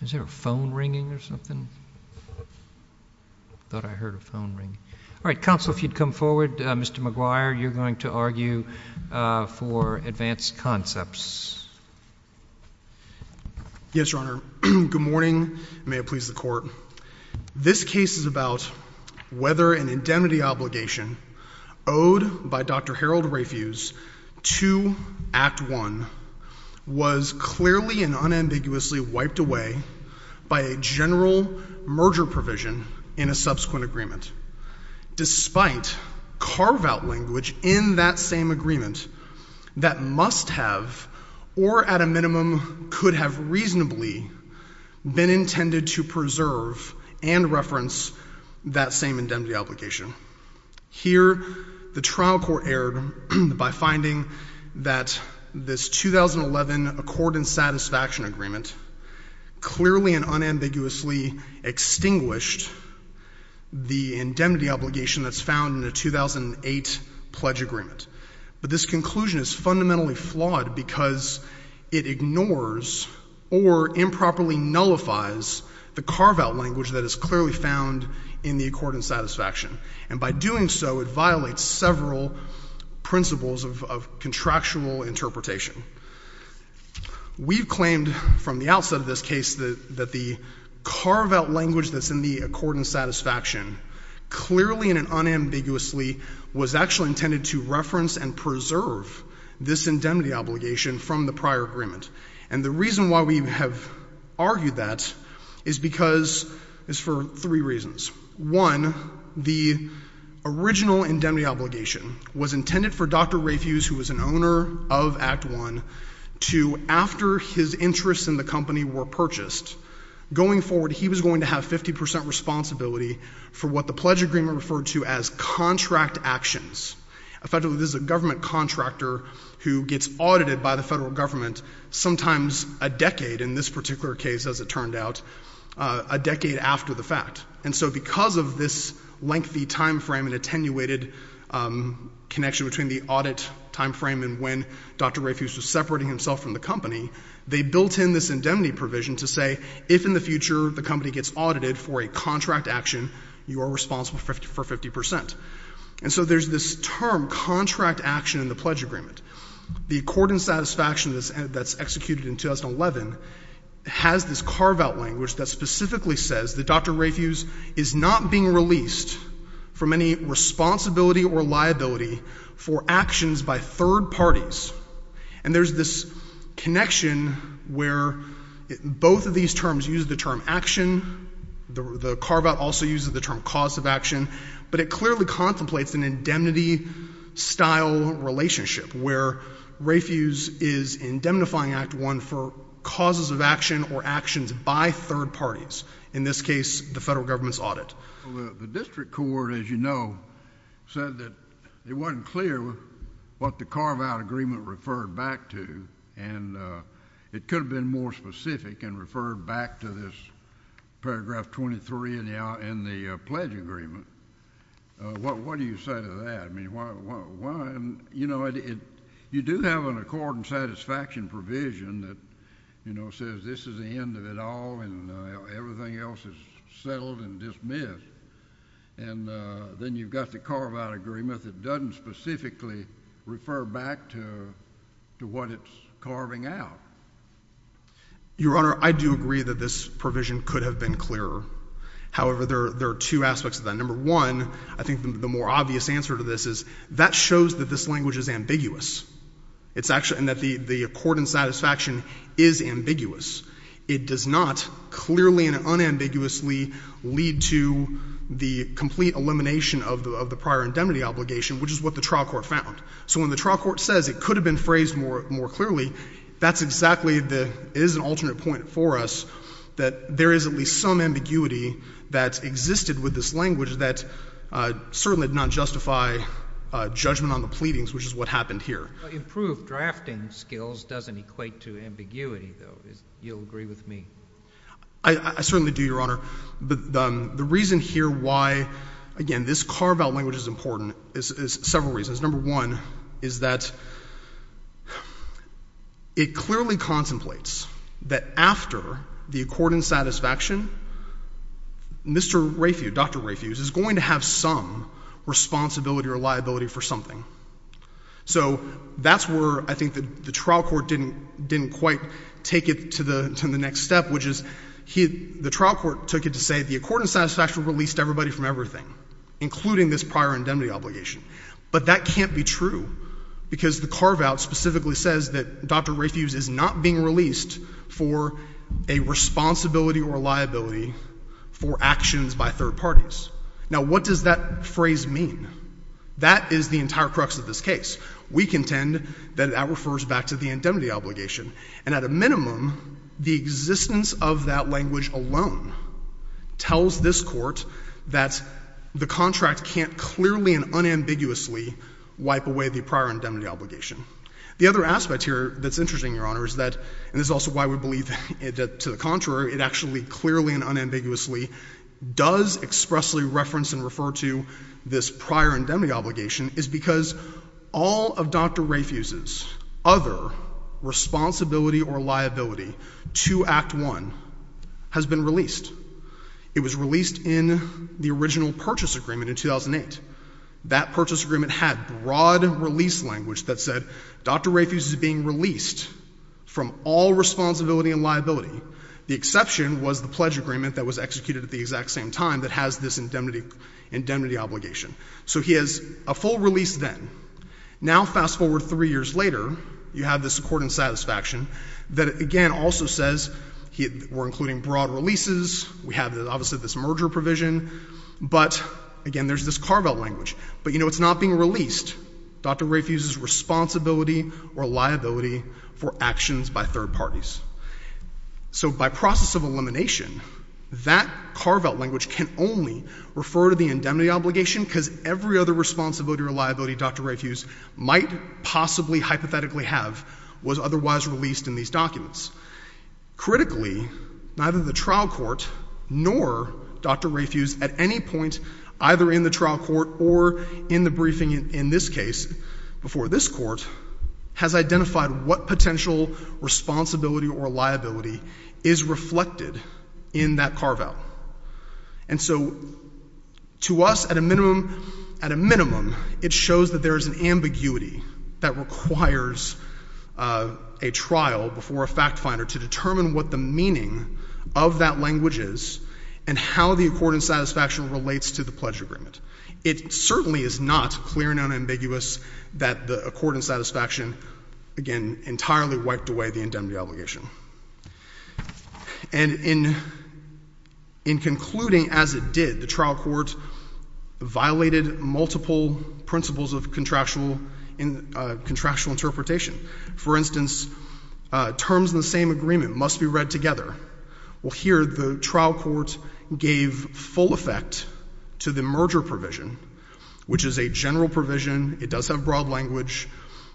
Is there a phone ringing or something? I thought I heard a phone ringing. Alright, Counsel, if you'd come forward. Mr. McGuire, you're going to argue for Advanced Concepts. Yes, Your Honor. Good morning, and may it please the Court. This case is about whether an indemnity obligation owed by Dr. Harold Rafuse to Act I was clearly and unambiguously wiped away by a general merger provision in a subsequent agreement, despite carve-out language in that same agreement that must have or at a minimum could have reasonably been intended to preserve and reference that same indemnity obligation. Here, the trial court erred by finding that this 2011 Accord and Satisfaction Agreement clearly and unambiguously extinguished the indemnity obligation that's found in the 2008 Pledge Agreement. But this conclusion is fundamentally flawed because it ignores or improperly nullifies the carve-out language that is clearly found in the Accord and Satisfaction. And by doing so, it violates several principles of contractual interpretation. We've claimed from the outset of this case that the carve-out language that's in the Accord and Satisfaction clearly and unambiguously was actually intended to reference and preserve this indemnity obligation from the prior agreement. And the reason why we have argued that is for three reasons. One, the original indemnity obligation was intended for Dr. Rafuse, who was an owner of Act I, to, after his interests in the company were purchased, going forward, he was going to have 50 percent responsibility for what the Pledge Agreement referred to as contract actions. Effectively, this is a government contractor who gets audited by the federal government, sometimes a decade, in this particular case, as it turned out, a decade after the fact. And so because of this lengthy timeframe and attenuated connection between the audit timeframe and when Dr. Rafuse was separating himself from the company, they built in this indemnity provision to say, if in the future the company gets audited for a contract action, you are responsible for 50 percent. And so there's this term, contract action, in the Pledge Agreement. The Accord and Satisfaction that's executed in 2011 has this carve-out language that specifically says that Dr. Rafuse is not being released from any responsibility or liability for actions by third parties. And there's this connection where both of these terms use the term action, the carve-out also uses the term cause of action, but it clearly contemplates an indemnity-style relationship where Rafuse is indemnifying Act I for causes of action or actions by third parties, in this case, the federal government's audit. The district court, as you know, said that it wasn't clear what the carve-out agreement referred back to, and it could have been more specific and referred back to this paragraph 23 in the Pledge Agreement. What do you say to that? I mean, you know, you do have an Accord and Satisfaction provision that, you know, says this is the end of it all and everything else is settled and dismissed, and then you've got the carve-out agreement that doesn't specifically refer back to what it's carving out. Your Honor, I do agree that this provision could have been clearer. However, there are two aspects of that. Number one, I think the more obvious answer to this is that shows that this language is ambiguous, and that the Accord and Satisfaction is ambiguous. It does not clearly and unambiguously lead to the complete elimination of the prior indemnity obligation, which is what the trial court found. So when the trial court says it could have been phrased more clearly, that's exactly the—it is an alternate point for us that there is at least some ambiguity that existed with this language that certainly did not justify judgment on the pleadings, which is what happened here. But improved drafting skills doesn't equate to ambiguity, though. You'll agree with me. I certainly do, Your Honor. The reason here why, again, this carve-out language is important is several reasons. Number one is that it clearly contemplates that after the Accord and Satisfaction, Mr. Rayfuse, Dr. Rayfuse, is going to have some responsibility or liability for something. So that's where I think the trial court didn't quite take it to the next step, which is the trial court took it to say the Accord and Satisfaction released everybody from everything, including this prior indemnity obligation. But that can't be true because the carve-out specifically says that Dr. Rayfuse is not being released for a responsibility or liability for actions by third parties. Now, what does that phrase mean? That is the entire crux of this case. We contend that that refers back to the indemnity obligation. And at a minimum, the existence of that language alone tells this Court that the contract can't clearly and unambiguously wipe away the prior indemnity obligation. The other aspect here that's interesting, Your Honor, is that, and this is also why we believe that to the contrary, it actually clearly and unambiguously does expressly reference and refer to this prior indemnity obligation, is because all of Dr. Rayfuse's other responsibility or liability to Act I has been released. It was released in the original purchase agreement in 2008. That purchase agreement had broad release language that said Dr. Rayfuse is being released from all responsibility and liability. The exception was the pledge agreement that was executed at the exact same time that has this indemnity obligation. So he has a full release then. Now, fast forward three years later, you have this Accord and Satisfaction that, again, also says we're including broad releases. We have, obviously, this merger provision. But, again, there's this carve-out language. But, you know, it's not being released, Dr. Rayfuse's responsibility or liability for actions by third parties. So by process of elimination, that carve-out language can only refer to the indemnity obligation because every other responsibility or liability Dr. Rayfuse might possibly hypothetically have was otherwise released in these documents. Critically, neither the trial court nor Dr. Rayfuse at any point either in the trial court or in the briefing in this case before this court has identified what potential responsibility or liability is reflected in that carve-out. And so to us, at a minimum, it shows that there is an ambiguity that requires a trial before a fact finder to determine what the meaning of that language is and how the Accord and Satisfaction relates to the pledge agreement. It certainly is not clear and unambiguous that the Accord and Satisfaction, again, entirely wiped away the indemnity obligation. And in concluding as it did, the trial court violated multiple principles of contractual interpretation. For instance, terms in the same agreement must be read together. Well, here the trial court gave full effect to the merger provision, which is a general provision. It does have broad language,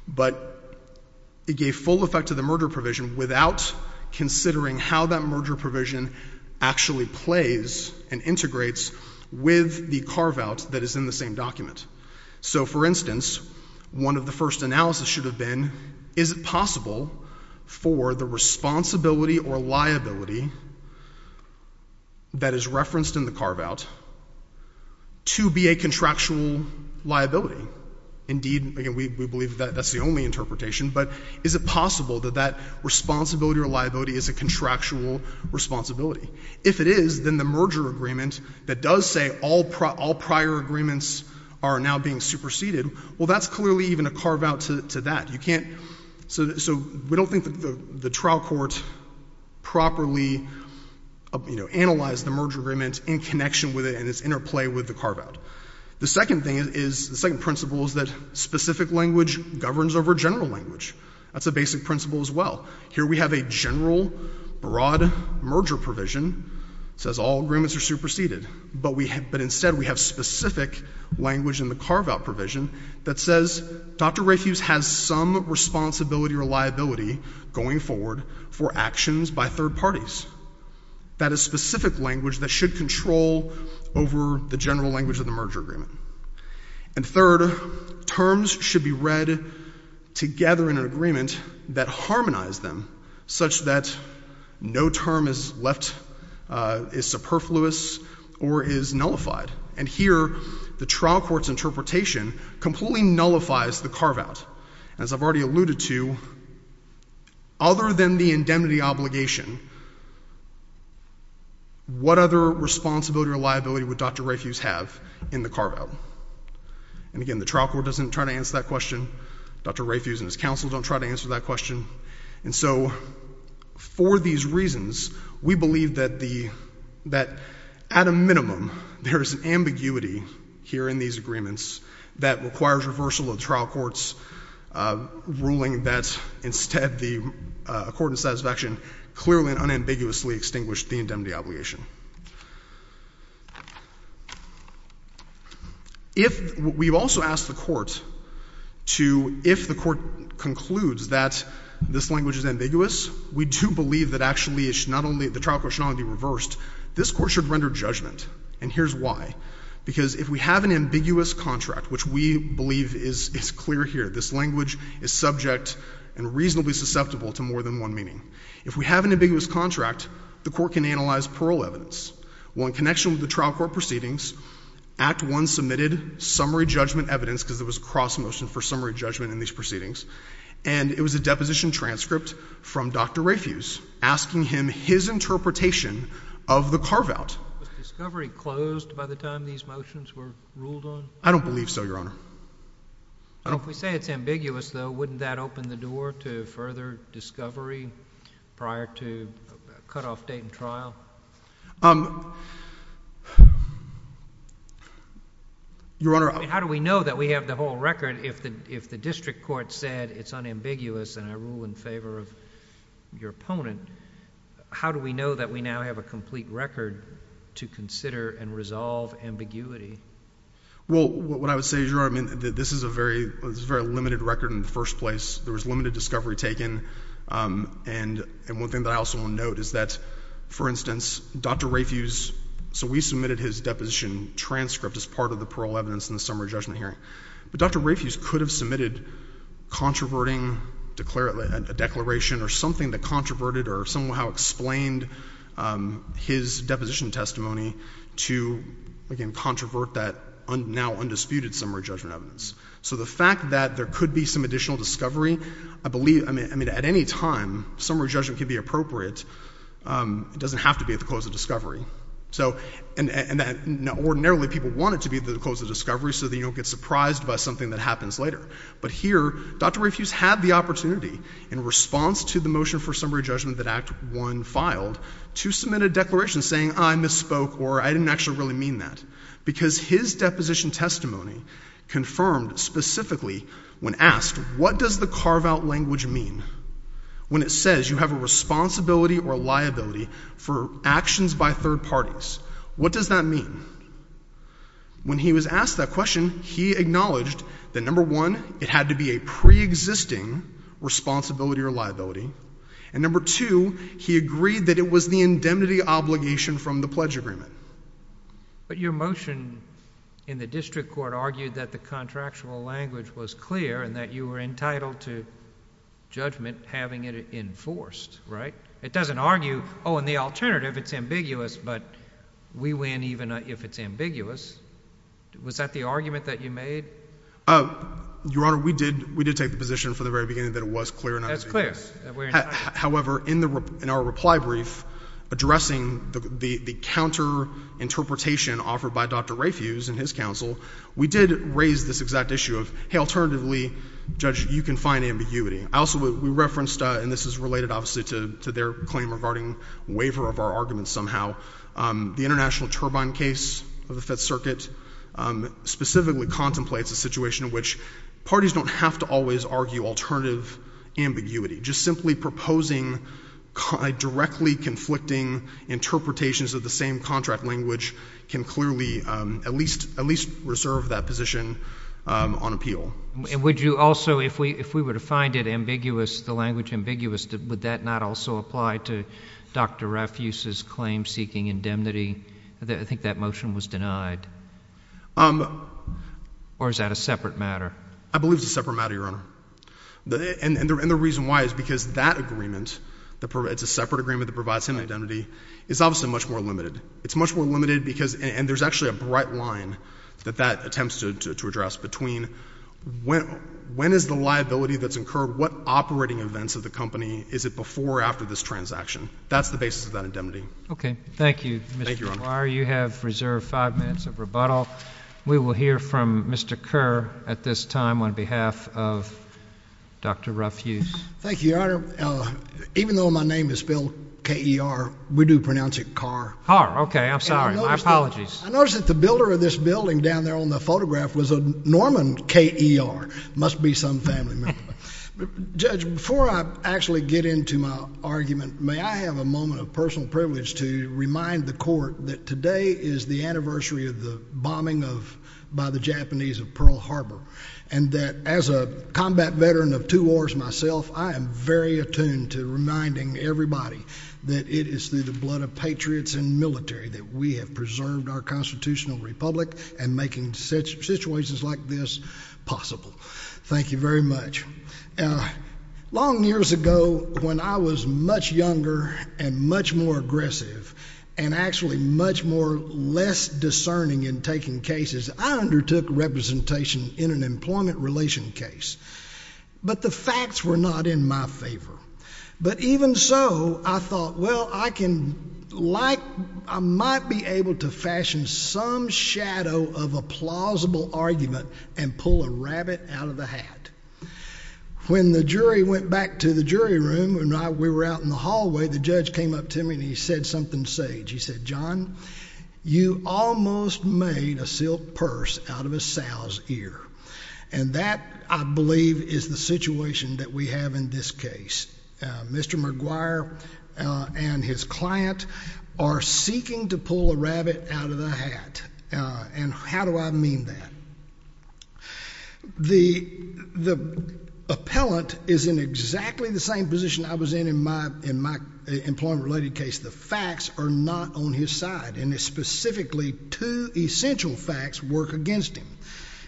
but it gave full effect to the merger provision without considering how that merger provision actually plays and integrates with the carve-out that is in the same document. So, for instance, one of the first analysis should have been, is it possible for the responsibility or liability that is referenced in the carve-out to be a contractual liability? Indeed, we believe that that's the only interpretation, but is it possible that that responsibility or liability is a contractual responsibility? If it is, then the merger agreement that does say all prior agreements are now being superseded, well, that's clearly even a carve-out to that. You can't, so we don't think that the trial court properly, you know, analyzed the merger agreement in connection with it and its interplay with the carve-out. The second thing is, the second principle is that specific language governs over general language. That's a basic principle as well. Here we have a general, broad merger provision that says all agreements are superseded, but instead we have specific language in the carve-out provision that says, Dr. Rafuse has some responsibility or liability going forward for actions by third parties. That is specific language that should control over the general language of the merger agreement. And third, terms should be read together in an agreement that harmonized them, such that no term is left, is superfluous, or is nullified. And here, the trial court's interpretation completely nullifies the carve-out. As I've already alluded to, other than the indemnity obligation, what other responsibility or liability would Dr. Rafuse have in the carve-out? And again, the trial court doesn't try to answer that question. Dr. Rafuse and his counsel don't try to answer that question. And so, for these reasons, we believe that at a minimum, there is an ambiguity here in these agreements that requires reversal of the trial court's ruling that instead the court in satisfaction clearly and unambiguously extinguished the indemnity obligation. We've also asked the court to, if the court concludes that this language is ambiguous, we do believe that actually, not only the trial court should not be reversed, this court should render judgment. And here's why. Because if we have an ambiguous contract, which we believe is clear here, this language is subject and reasonably susceptible to more than one meaning. If we have an ambiguous contract, the court can analyze parole evidence. Well, in connection with the trial court proceedings, Act I submitted summary judgment evidence, because there was a cross-motion for summary judgment in these proceedings. And it was a deposition transcript from Dr. Rafuse asking him his interpretation of the carve-out. Was discovery closed by the time these motions were ruled on? I don't believe so, Your Honor. Well, if we say it's ambiguous, though, wouldn't that open the door to further discovery prior to cutoff date and trial? Your Honor— I mean, how do we know that we have the whole record if the district court said it's unambiguous and I rule in favor of your opponent? How do we know that we now have a complete record to consider and resolve ambiguity? Well, what I would say, Your Honor, I mean, this is a very limited record in the first place. There was limited discovery taken. And one thing that I also want to note is that, for instance, Dr. Rafuse—so we submitted his deposition transcript as part of the parole evidence in the summary judgment hearing. But Dr. Rafuse could have submitted controverting declaration or something that controverted or somehow explained his deposition testimony to, again, controvert that now undisputed summary judgment evidence. So the fact that there could be some additional discovery, I believe—I mean, at any time, summary judgment could be appropriate. It doesn't have to be at the close of discovery. So—and ordinarily, people want it to be at the close of discovery so that you don't get surprised by something that happens later. But here, Dr. Rafuse had the opportunity, in response to the motion for summary judgment that Act I filed, to submit a declaration saying, I misspoke or I didn't actually really mean that, because his deposition testimony confirmed specifically, when asked, what does the carve-out language mean? When it says you have a responsibility or liability for actions by third parties, what does that mean? When he was asked that question, he acknowledged that, number one, it had to be a preexisting responsibility or liability. And, number two, he agreed that it was the indemnity obligation from the pledge agreement. But your motion in the district court argued that the contractual language was clear and that you were entitled to judgment having it enforced, right? It doesn't argue, oh, and the alternative, it's ambiguous, but we win even if it's ambiguous. Was that the argument that you made? Your Honor, we did take the position from the very beginning that it was clear and not ambiguous. That's clear. However, in our reply brief, addressing the counter-interpretation offered by Dr. Rafuse and his counsel, we did raise this exact issue of, hey, alternatively, Judge, you can find ambiguity. Also, we referenced, and this is related obviously to their claim regarding waiver of our arguments somehow, the International Turbine case of the Fifth Circuit specifically contemplates a situation in which parties don't have to always argue alternative ambiguity. Just simply proposing directly conflicting interpretations of the same contract language can clearly at least reserve that position on appeal. And would you also, if we were to find it ambiguous, the language ambiguous, would that not also apply to Dr. Rafuse's claim seeking indemnity? I think that motion was denied. Or is that a separate matter? I believe it's a separate matter, Your Honor. And the reason why is because that agreement, it's a separate agreement that provides him indemnity, is obviously much more limited. It's much more limited because, and there's actually a bright line that that attempts to address, between when is the liability that's incurred, what operating events of the company, is it before or after this transaction? That's the basis of that indemnity. Okay. Thank you, Mr. Dwyer. Thank you, Your Honor. You have reserved five minutes of rebuttal. We will hear from Mr. Kerr at this time on behalf of Dr. Rafuse. Thank you, Your Honor. Even though my name is spelled K-E-R, we do pronounce it Carr. Carr. Okay. I'm sorry. My apologies. I noticed that the builder of this building down there on the photograph was a Norman K-E-R. Must be some family member. Judge, before I actually get into my argument, may I have a moment of personal privilege to remind the court that today is the anniversary of the bombing by the Japanese of Pearl Harbor, and that as a combat veteran of two wars myself, I am very attuned to reminding everybody that it is through the blood of patriots and military that we have preserved our constitutional republic and making situations like this possible. Thank you very much. Long years ago, when I was much younger and much more aggressive and actually much more less discerning in taking cases, I undertook representation in an employment relation case. But the facts were not in my favor. But even so, I thought, well, I might be able to fashion some shadow of a plausible argument and pull a rabbit out of the hat. When the jury went back to the jury room and we were out in the hallway, the judge came up to me and he said something sage. He said, John, you almost made a silk purse out of a sow's ear. And that, I believe, is the situation that we have in this case. Mr. McGuire and his client are seeking to pull a rabbit out of the hat. And how do I mean that? The appellant is in exactly the same position I was in in my employment related case. The facts are not on his side. And specifically, two essential facts work against him.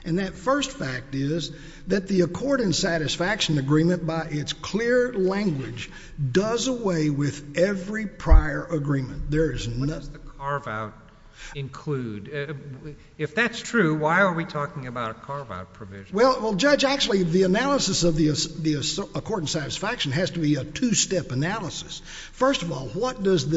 And that first fact is that the accord and satisfaction agreement by its clear language does away with every prior agreement. What does the carve-out include? If that's true, why are we talking about a carve-out provision? Well, Judge, actually the analysis of the accord and satisfaction has to be a two-step analysis. First of all, what is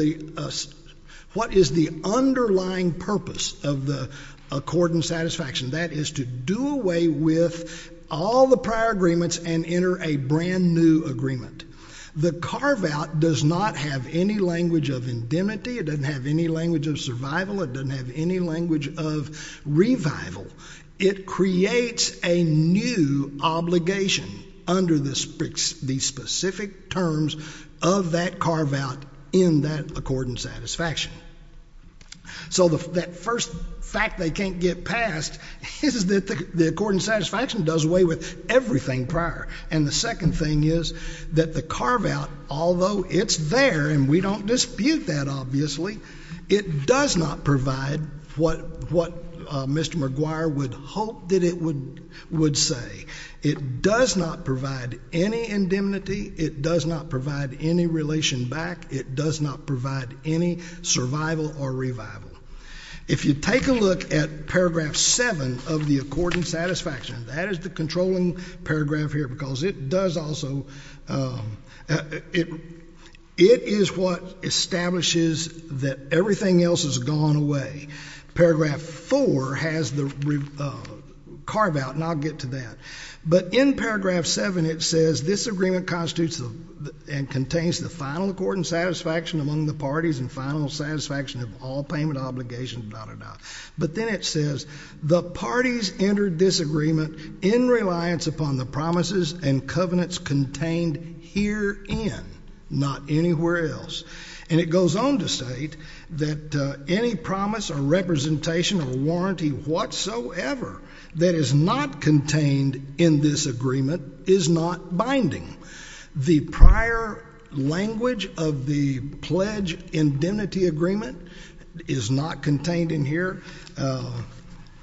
the underlying purpose of the accord and satisfaction? That is to do away with all the prior agreements and enter a brand-new agreement. The carve-out does not have any language of indemnity. It doesn't have any language of survival. It doesn't have any language of revival. It creates a new obligation under the specific terms of that carve-out in that accord and satisfaction. So that first fact they can't get past is that the accord and satisfaction does away with everything prior. And the second thing is that the carve-out, although it's there and we don't dispute that obviously, it does not provide what Mr. McGuire would hope that it would say. It does not provide any indemnity. It does not provide any relation back. It does not provide any survival or revival. If you take a look at Paragraph 7 of the accord and satisfaction, that is the controlling paragraph here, because it does also, it is what establishes that everything else has gone away. Paragraph 4 has the carve-out, and I'll get to that. But in Paragraph 7, it says, This agreement constitutes and contains the final accord and satisfaction among the parties and final satisfaction of all payment obligations, dah, dah, dah. But then it says, The parties enter this agreement in reliance upon the promises and covenants contained herein, not anywhere else. And it goes on to state that any promise or representation of a warranty whatsoever that is not contained in this agreement is not binding. The prior language of the pledge indemnity agreement is not contained in here.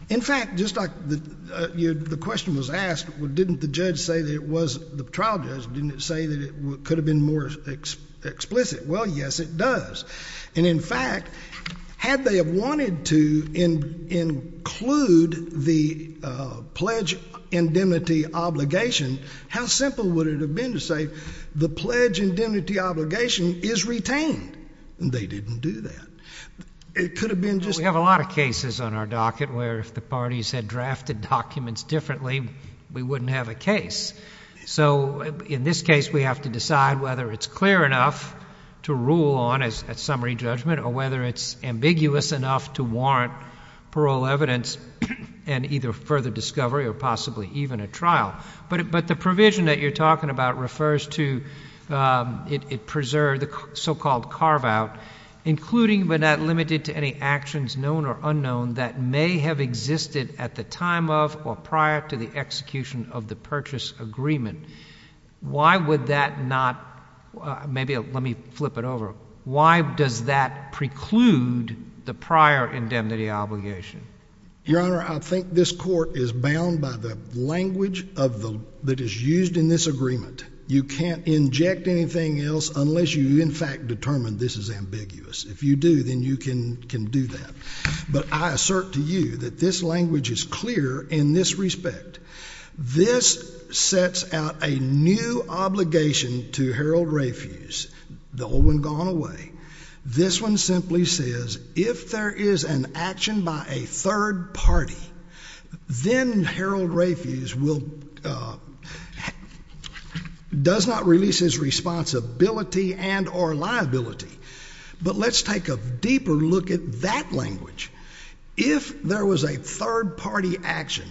In fact, just like the question was asked, well, didn't the judge say that it was, the trial judge, didn't it say that it could have been more explicit? Well, yes, it does. And, in fact, had they wanted to include the pledge indemnity obligation, how simple would it have been to say the pledge indemnity obligation is retained? They didn't do that. It could have been just that. Well, we have a lot of cases on our docket where if the parties had drafted documents differently, we wouldn't have a case. So in this case, we have to decide whether it's clear enough to rule on as summary judgment or whether it's ambiguous enough to warrant parole evidence and either further discovery or possibly even a trial. But the provision that you're talking about refers to it preserve the so-called carve-out, including but not limited to any actions known or unknown that may have existed at the time of or prior to the execution of the purchase agreement. Why would that not, maybe let me flip it over. Why does that preclude the prior indemnity obligation? Your Honor, I think this court is bound by the language that is used in this agreement. You can't inject anything else unless you, in fact, determine this is ambiguous. If you do, then you can do that. But I assert to you that this language is clear in this respect. This sets out a new obligation to Harold Rafuse, the old one gone away. This one simply says if there is an action by a third party, then Harold Rafuse does not release his responsibility and or liability. But let's take a deeper look at that language. If there was a third party action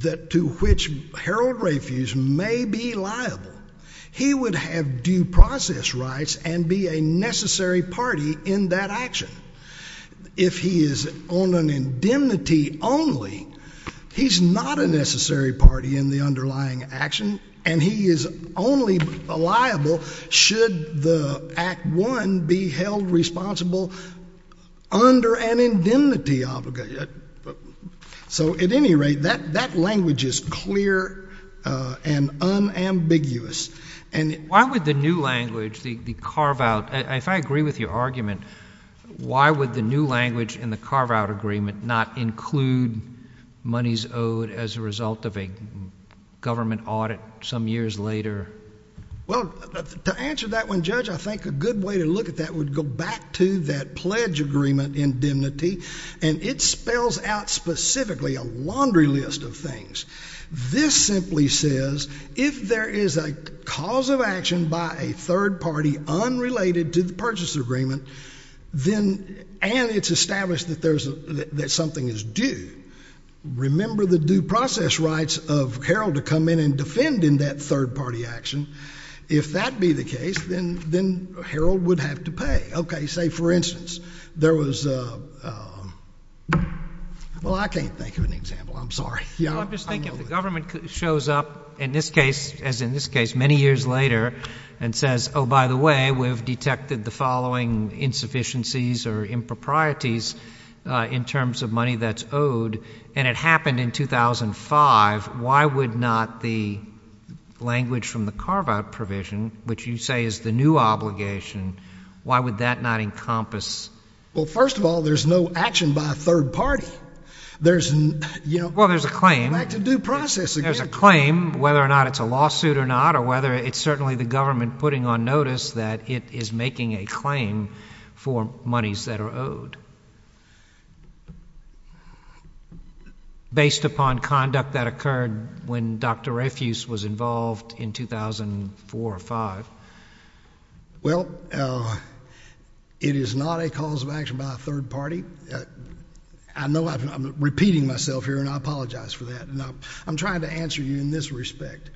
to which Harold Rafuse may be liable, he would have due process rights and be a necessary party in that action. If he is on an indemnity only, he's not a necessary party in the underlying action, and he is only liable should the Act I be held responsible under an indemnity obligation. So at any rate, that language is clear and unambiguous. Why would the new language, the carve-out, if I agree with your argument, why would the new language in the carve-out agreement not include monies owed as a result of a government audit some years later? Well, to answer that one, Judge, I think a good way to look at that would go back to that pledge agreement indemnity, and it spells out specifically a laundry list of things. This simply says if there is a cause of action by a third party unrelated to the purchase agreement, and it's established that something is due, remember the due process rights of Harold to come in and defend in that third party action. If that be the case, then Harold would have to pay. Okay, say, for instance, there was a, well, I can't think of an example. I'm sorry. I'm just thinking if the government shows up in this case, as in this case, many years later, and says, oh, by the way, we've detected the following insufficiencies or improprieties in terms of money that's owed, and it happened in 2005, why would not the language from the carve-out provision, which you say is the new obligation, why would that not encompass? Well, first of all, there's no action by a third party. Well, there's a claim. Back to due process again. There's a claim, whether or not it's a lawsuit or not, or whether it's certainly the government putting on notice that it is making a claim for monies that are owed. Based upon conduct that occurred when Dr. Refuse was involved in 2004 or 2005. Well, it is not a cause of action by a third party. I know I'm repeating myself here, and I apologize for that. I'm trying to answer you in this respect.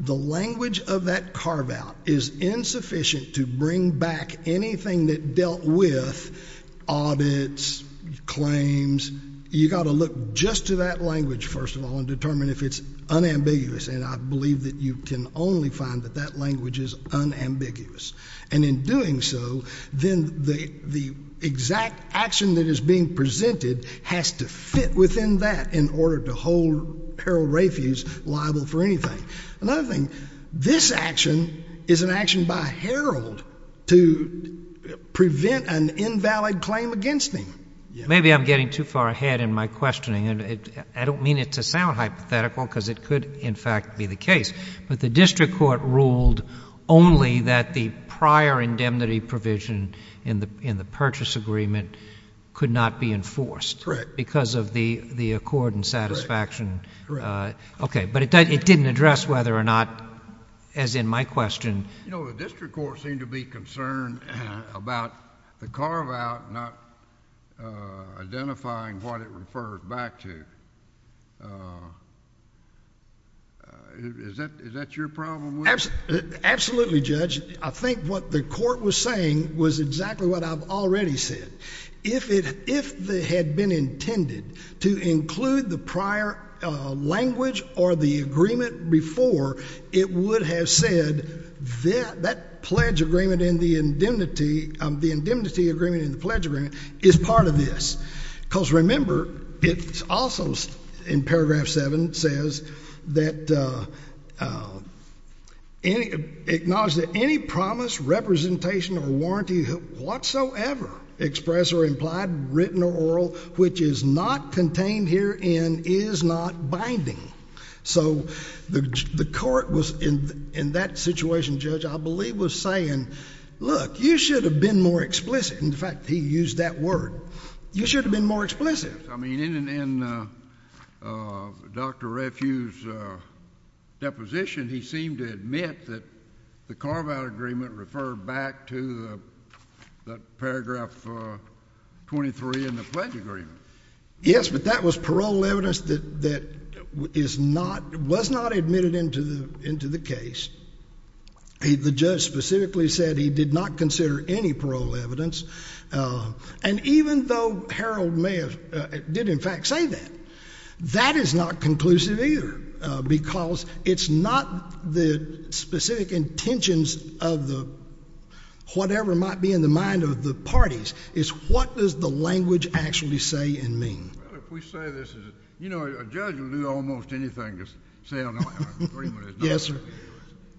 The language of that carve-out is insufficient to bring back anything that dealt with audits, claims. You've got to look just to that language, first of all, and determine if it's unambiguous, and I believe that you can only find that that language is unambiguous. And in doing so, then the exact action that is being presented has to fit within that in order to hold Harold Refuse liable for anything. Another thing, this action is an action by Harold to prevent an invalid claim against him. Maybe I'm getting too far ahead in my questioning, and I don't mean it to sound hypothetical because it could, in fact, be the case. But the district court ruled only that the prior indemnity provision in the purchase agreement could not be enforced. Correct. Because of the accord and satisfaction. Correct. Okay, but it didn't address whether or not, as in my question... You know, the district court seemed to be concerned about the carve-out not identifying what it referred back to. Is that your problem with it? Absolutely, Judge. I think what the court was saying was exactly what I've already said. If it had been intended to include the prior language or the agreement before, it would have said that the indemnity agreement in the pledge agreement is part of this. Because, remember, it also, in paragraph 7, says that... Acknowledge that any promise, representation, or warranty whatsoever expressed or implied, written or oral, which is not contained herein is not binding. So the court was, in that situation, Judge, I believe was saying, Look, you should have been more explicit. In fact, he used that word. You should have been more explicit. I mean, in Dr. Refue's deposition, he seemed to admit that the carve-out agreement referred back to the paragraph 23 in the pledge agreement. Yes, but that was parole evidence that was not admitted into the case. The judge specifically said he did not consider any parole evidence. And even though Harold did, in fact, say that, that is not conclusive either, because it's not the specific intentions of the whatever might be in the mind of the parties. It's what does the language actually say and mean. Well, if we say this is... You know, a judge will do almost anything to say I don't have an agreement. Yes, sir.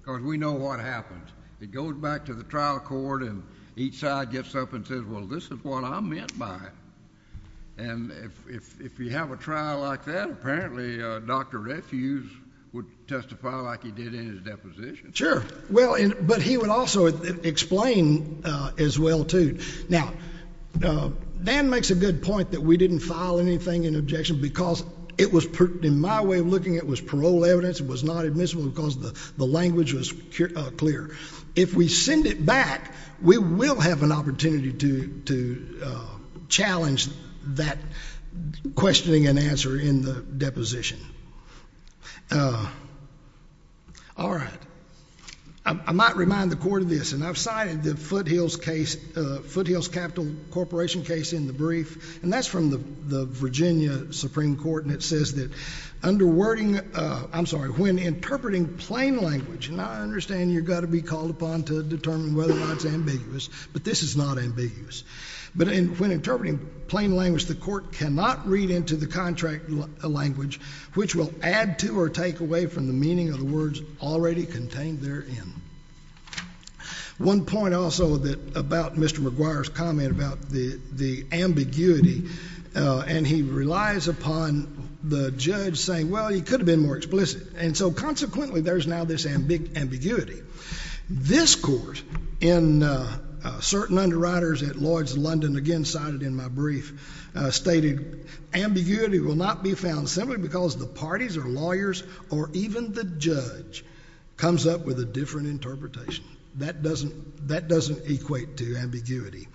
Because we know what happens. It goes back to the trial court, and each side gets up and says, Well, this is what I meant by it. And if you have a trial like that, apparently Dr. Refue would testify like he did in his deposition. Sure. But he would also explain as well, too. Now, Dan makes a good point that we didn't file anything in objection because it was, in my way of looking at it, it was parole evidence, it was not admissible because the language was clear. If we send it back, we will have an opportunity to challenge that questioning and answer in the deposition. All right. I might remind the court of this, and I've cited the Foothills Capital Corporation case in the brief, and that's from the Virginia Supreme Court, and it says that under wording... I'm sorry, when interpreting plain language, and I understand you've got to be called upon to determine whether or not it's ambiguous, but this is not ambiguous. But when interpreting plain language, the court cannot read into the contract language, which will add to or take away from the meaning of the words already contained therein. One point also about Mr. McGuire's comment about the ambiguity, and he relies upon the judge saying, well, he could have been more explicit. And so, consequently, there's now this ambiguity. This court in certain underwriters at Lloyd's London, again cited in my brief, stated ambiguity will not be found simply because the parties or lawyers or even the judge comes up with a different interpretation. That doesn't equate to ambiguity.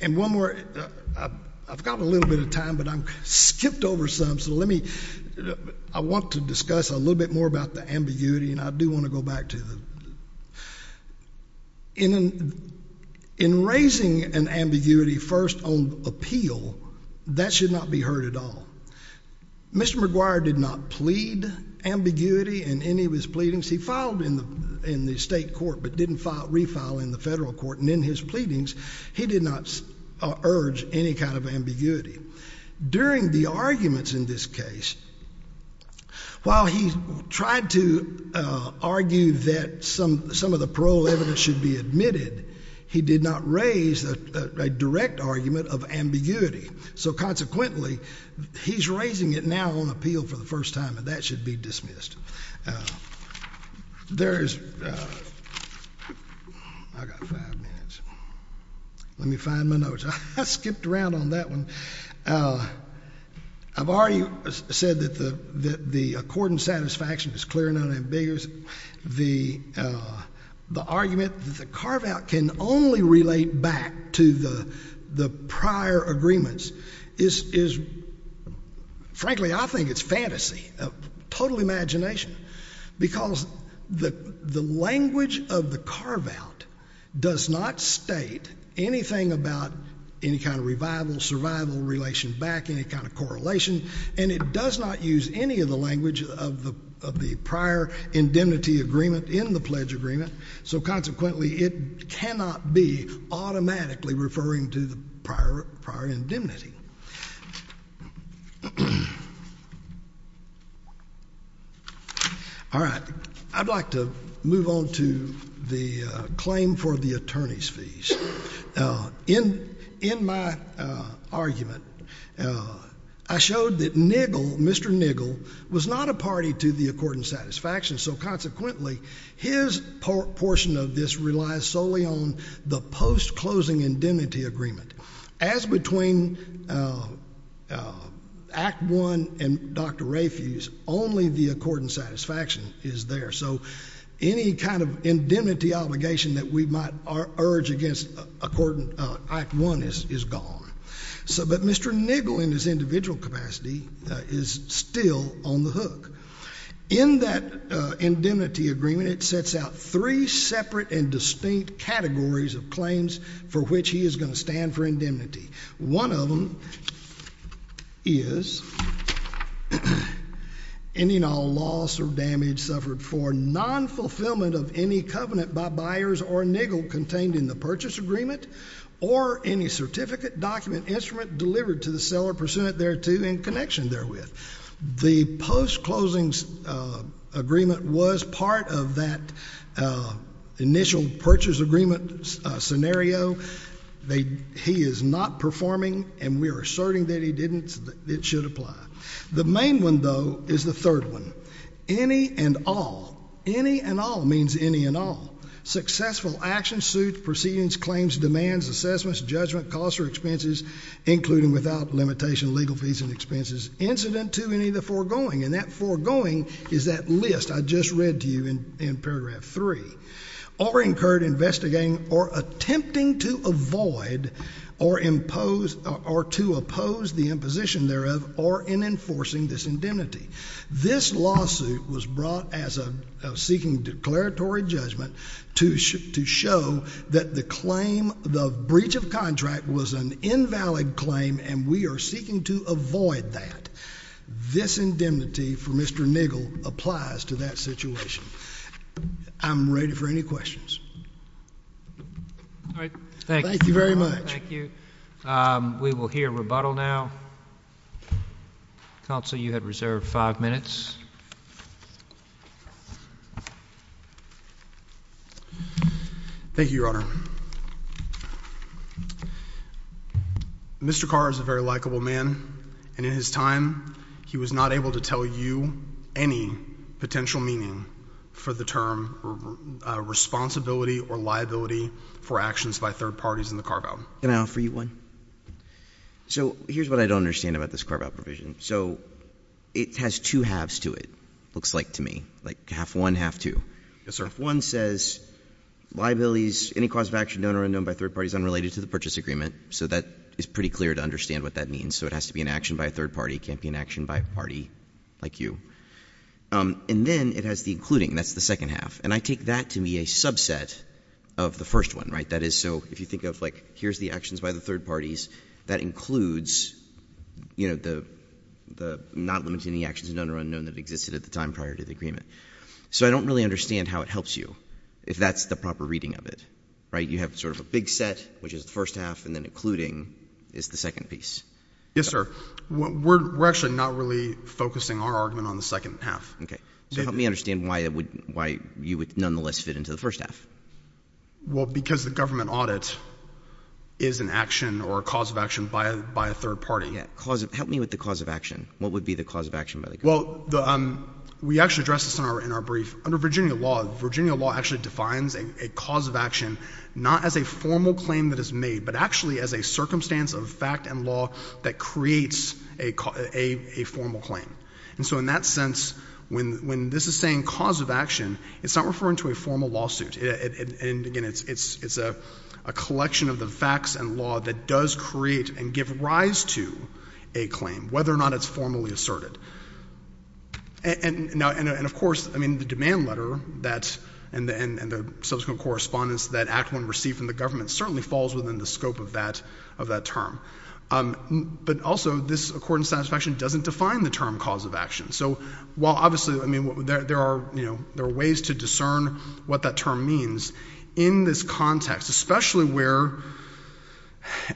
And one more. I've got a little bit of time, but I've skipped over some, so let me... I want to discuss a little bit more about the ambiguity, and I do want to go back to the... In raising an ambiguity first on appeal, that should not be heard at all. Mr. McGuire did not plead ambiguity in any of his pleadings. He filed in the state court, but didn't refile in the federal court. And in his pleadings, he did not urge any kind of ambiguity. During the arguments in this case, while he tried to argue that some of the parole evidence should be admitted, he did not raise a direct argument of ambiguity. So, consequently, he's raising it now on appeal for the first time, and that should be dismissed. There's... I've got five minutes. Let me find my notes. I skipped around on that one. I've already said that the accord and satisfaction is clear and unambiguous. The argument that the carve-out can only relate back to the prior agreements is... Frankly, I think it's fantasy, total imagination, because the language of the carve-out does not state anything about any kind of revival, survival, relation back, any kind of correlation. And it does not use any of the language of the prior indemnity agreement in the pledge agreement. So, consequently, it cannot be automatically referring to the prior indemnity. All right. I'd like to move on to the claim for the attorney's fees. In my argument, I showed that Niggle, Mr. Niggle, was not a party to the accord and satisfaction. So, consequently, his portion of this relies solely on the post-closing indemnity agreement. As between Act I and Dr. Rafuse, only the accord and satisfaction is there. So, any kind of indemnity obligation that we might urge against Act I is gone. But Mr. Niggle, in his individual capacity, is still on the hook. In that indemnity agreement, it sets out three separate and distinct categories of claims for which he is going to stand for indemnity. One of them is ending all loss or damage suffered for non-fulfillment of any covenant by buyers or Niggle contained in the purchase agreement, or any certificate, document, instrument delivered to the seller pursuant thereto in connection therewith. The post-closing agreement was part of that initial purchase agreement scenario. He is not performing, and we are asserting that he didn't. It should apply. The main one, though, is the third one, any and all. Any and all means any and all. Successful actions, suits, proceedings, claims, demands, assessments, judgment, costs or expenses, including without limitation of legal fees and expenses, incident to any of the foregoing. And that foregoing is that list I just read to you in paragraph three. Or incurred investigating or attempting to avoid or impose or to oppose the imposition thereof or in enforcing this indemnity. This lawsuit was brought as a seeking declaratory judgment to show that the claim, the breach of contract was an invalid claim, and we are seeking to avoid that. This indemnity for Mr. Niggle applies to that situation. I'm ready for any questions. All right. Thank you very much. Thank you. We will hear rebuttal now. Counsel, you have reserved five minutes. Thank you, Your Honor. Mr. Carr is a very likable man, and in his time he was not able to tell you any potential meaning for the term responsibility or liability for actions by third parties in the Carr vow. Can I offer you one? So here's what I don't understand about this Carr vow provision. So it has two halves to it, looks like to me, like half one, half two. Yes, sir. One says liabilities, any cause of action known or unknown by third parties unrelated to the purchase agreement. So that is pretty clear to understand what that means. So it has to be an action by a third party. It can't be an action by a party like you. And then it has the including. That's the second half. And I take that to be a subset of the first one, right? That is so if you think of, like, here's the actions by the third parties, that includes, you know, the not limiting the actions done or unknown that existed at the time prior to the agreement. So I don't really understand how it helps you if that's the proper reading of it, right? You have sort of a big set, which is the first half, and then including is the second piece. Yes, sir. We're actually not really focusing our argument on the second half. Okay. So help me understand why you would nonetheless fit into the first half. Well, because the government audit is an action or a cause of action by a third party. Yeah. Help me with the cause of action. What would be the cause of action by the government? Well, we actually addressed this in our brief. Under Virginia law, Virginia law actually defines a cause of action not as a formal claim that is made but actually as a circumstance of fact and law that creates a formal claim. And so in that sense, when this is saying cause of action, it's not referring to a formal lawsuit. And, again, it's a collection of the facts and law that does create and give rise to a claim, whether or not it's formally asserted. And, of course, I mean, the demand letter and the subsequent correspondence that Act I received from the government certainly falls within the scope of that term. But also this accordance satisfaction doesn't define the term cause of action. So while obviously, I mean, there are ways to discern what that term means in this context, especially where,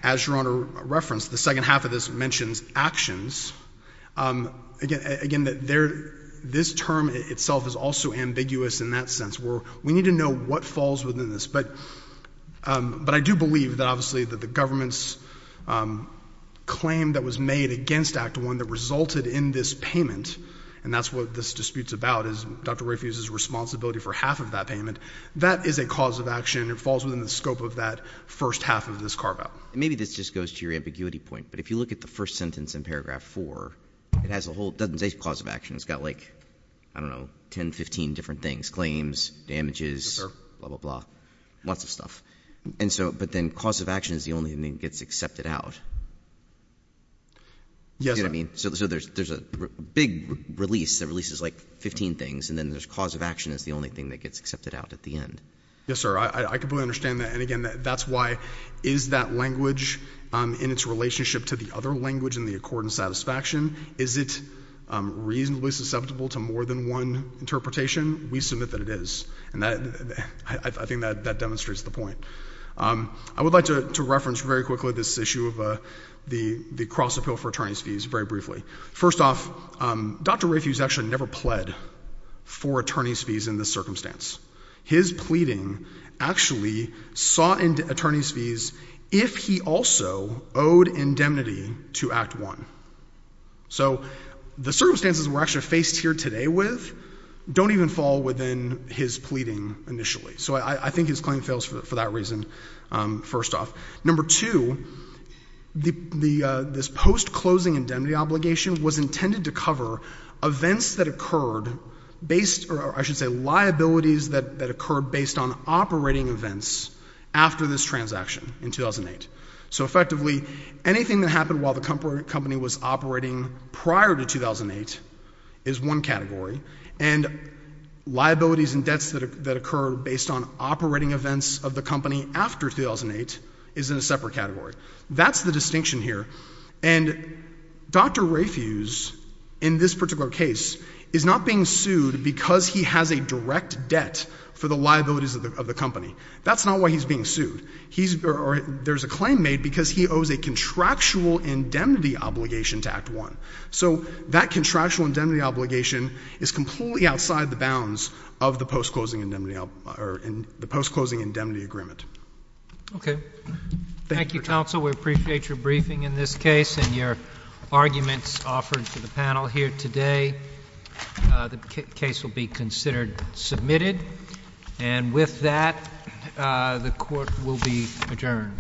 as Your Honor referenced, the second half of this mentions actions. Again, this term itself is also ambiguous in that sense where we need to know what falls within this. But I do believe that obviously that the government's claim that was made against Act I that resulted in this payment, and that's what this dispute's about, is Dr. Rafi's responsibility for half of that payment. That is a cause of action. It falls within the scope of that first half of this carve-out. Maybe this just goes to your ambiguity point. But if you look at the first sentence in paragraph four, it has a whole – it doesn't say cause of action. It's got like, I don't know, 10, 15 different things, claims, damages, blah, blah, blah, lots of stuff. And so – but then cause of action is the only thing that gets accepted out. You see what I mean? So there's a big release that releases like 15 things, and then there's cause of action is the only thing that gets accepted out at the end. Yes, sir. I completely understand that. And again, that's why is that language in its relationship to the other language in the accord and satisfaction, is it reasonably susceptible to more than one interpretation? We submit that it is. And I think that demonstrates the point. I would like to reference very quickly this issue of the cross-appeal for attorney's fees very briefly. First off, Dr. Rafi has actually never pled for attorney's fees in this circumstance. His pleading actually sought attorney's fees if he also owed indemnity to Act I. So the circumstances we're actually faced here today with don't even fall within his pleading initially. So I think his claim fails for that reason, first off. Number two, this post-closing indemnity obligation was intended to cover events that occurred based, or I should say liabilities that occurred based on operating events after this transaction in 2008. So effectively, anything that happened while the company was operating prior to 2008 is one category. And liabilities and debts that occur based on operating events of the company after 2008 is in a separate category. That's the distinction here. And Dr. Rafi's, in this particular case, is not being sued because he has a direct debt for the liabilities of the company. That's not why he's being sued. There's a claim made because he owes a contractual indemnity obligation to Act I. So that contractual indemnity obligation is completely outside the bounds of the post-closing indemnity agreement. Okay. Thank you, counsel. We appreciate your briefing in this case and your arguments offered to the panel here today. The case will be considered submitted. And with that, the court will be adjourned.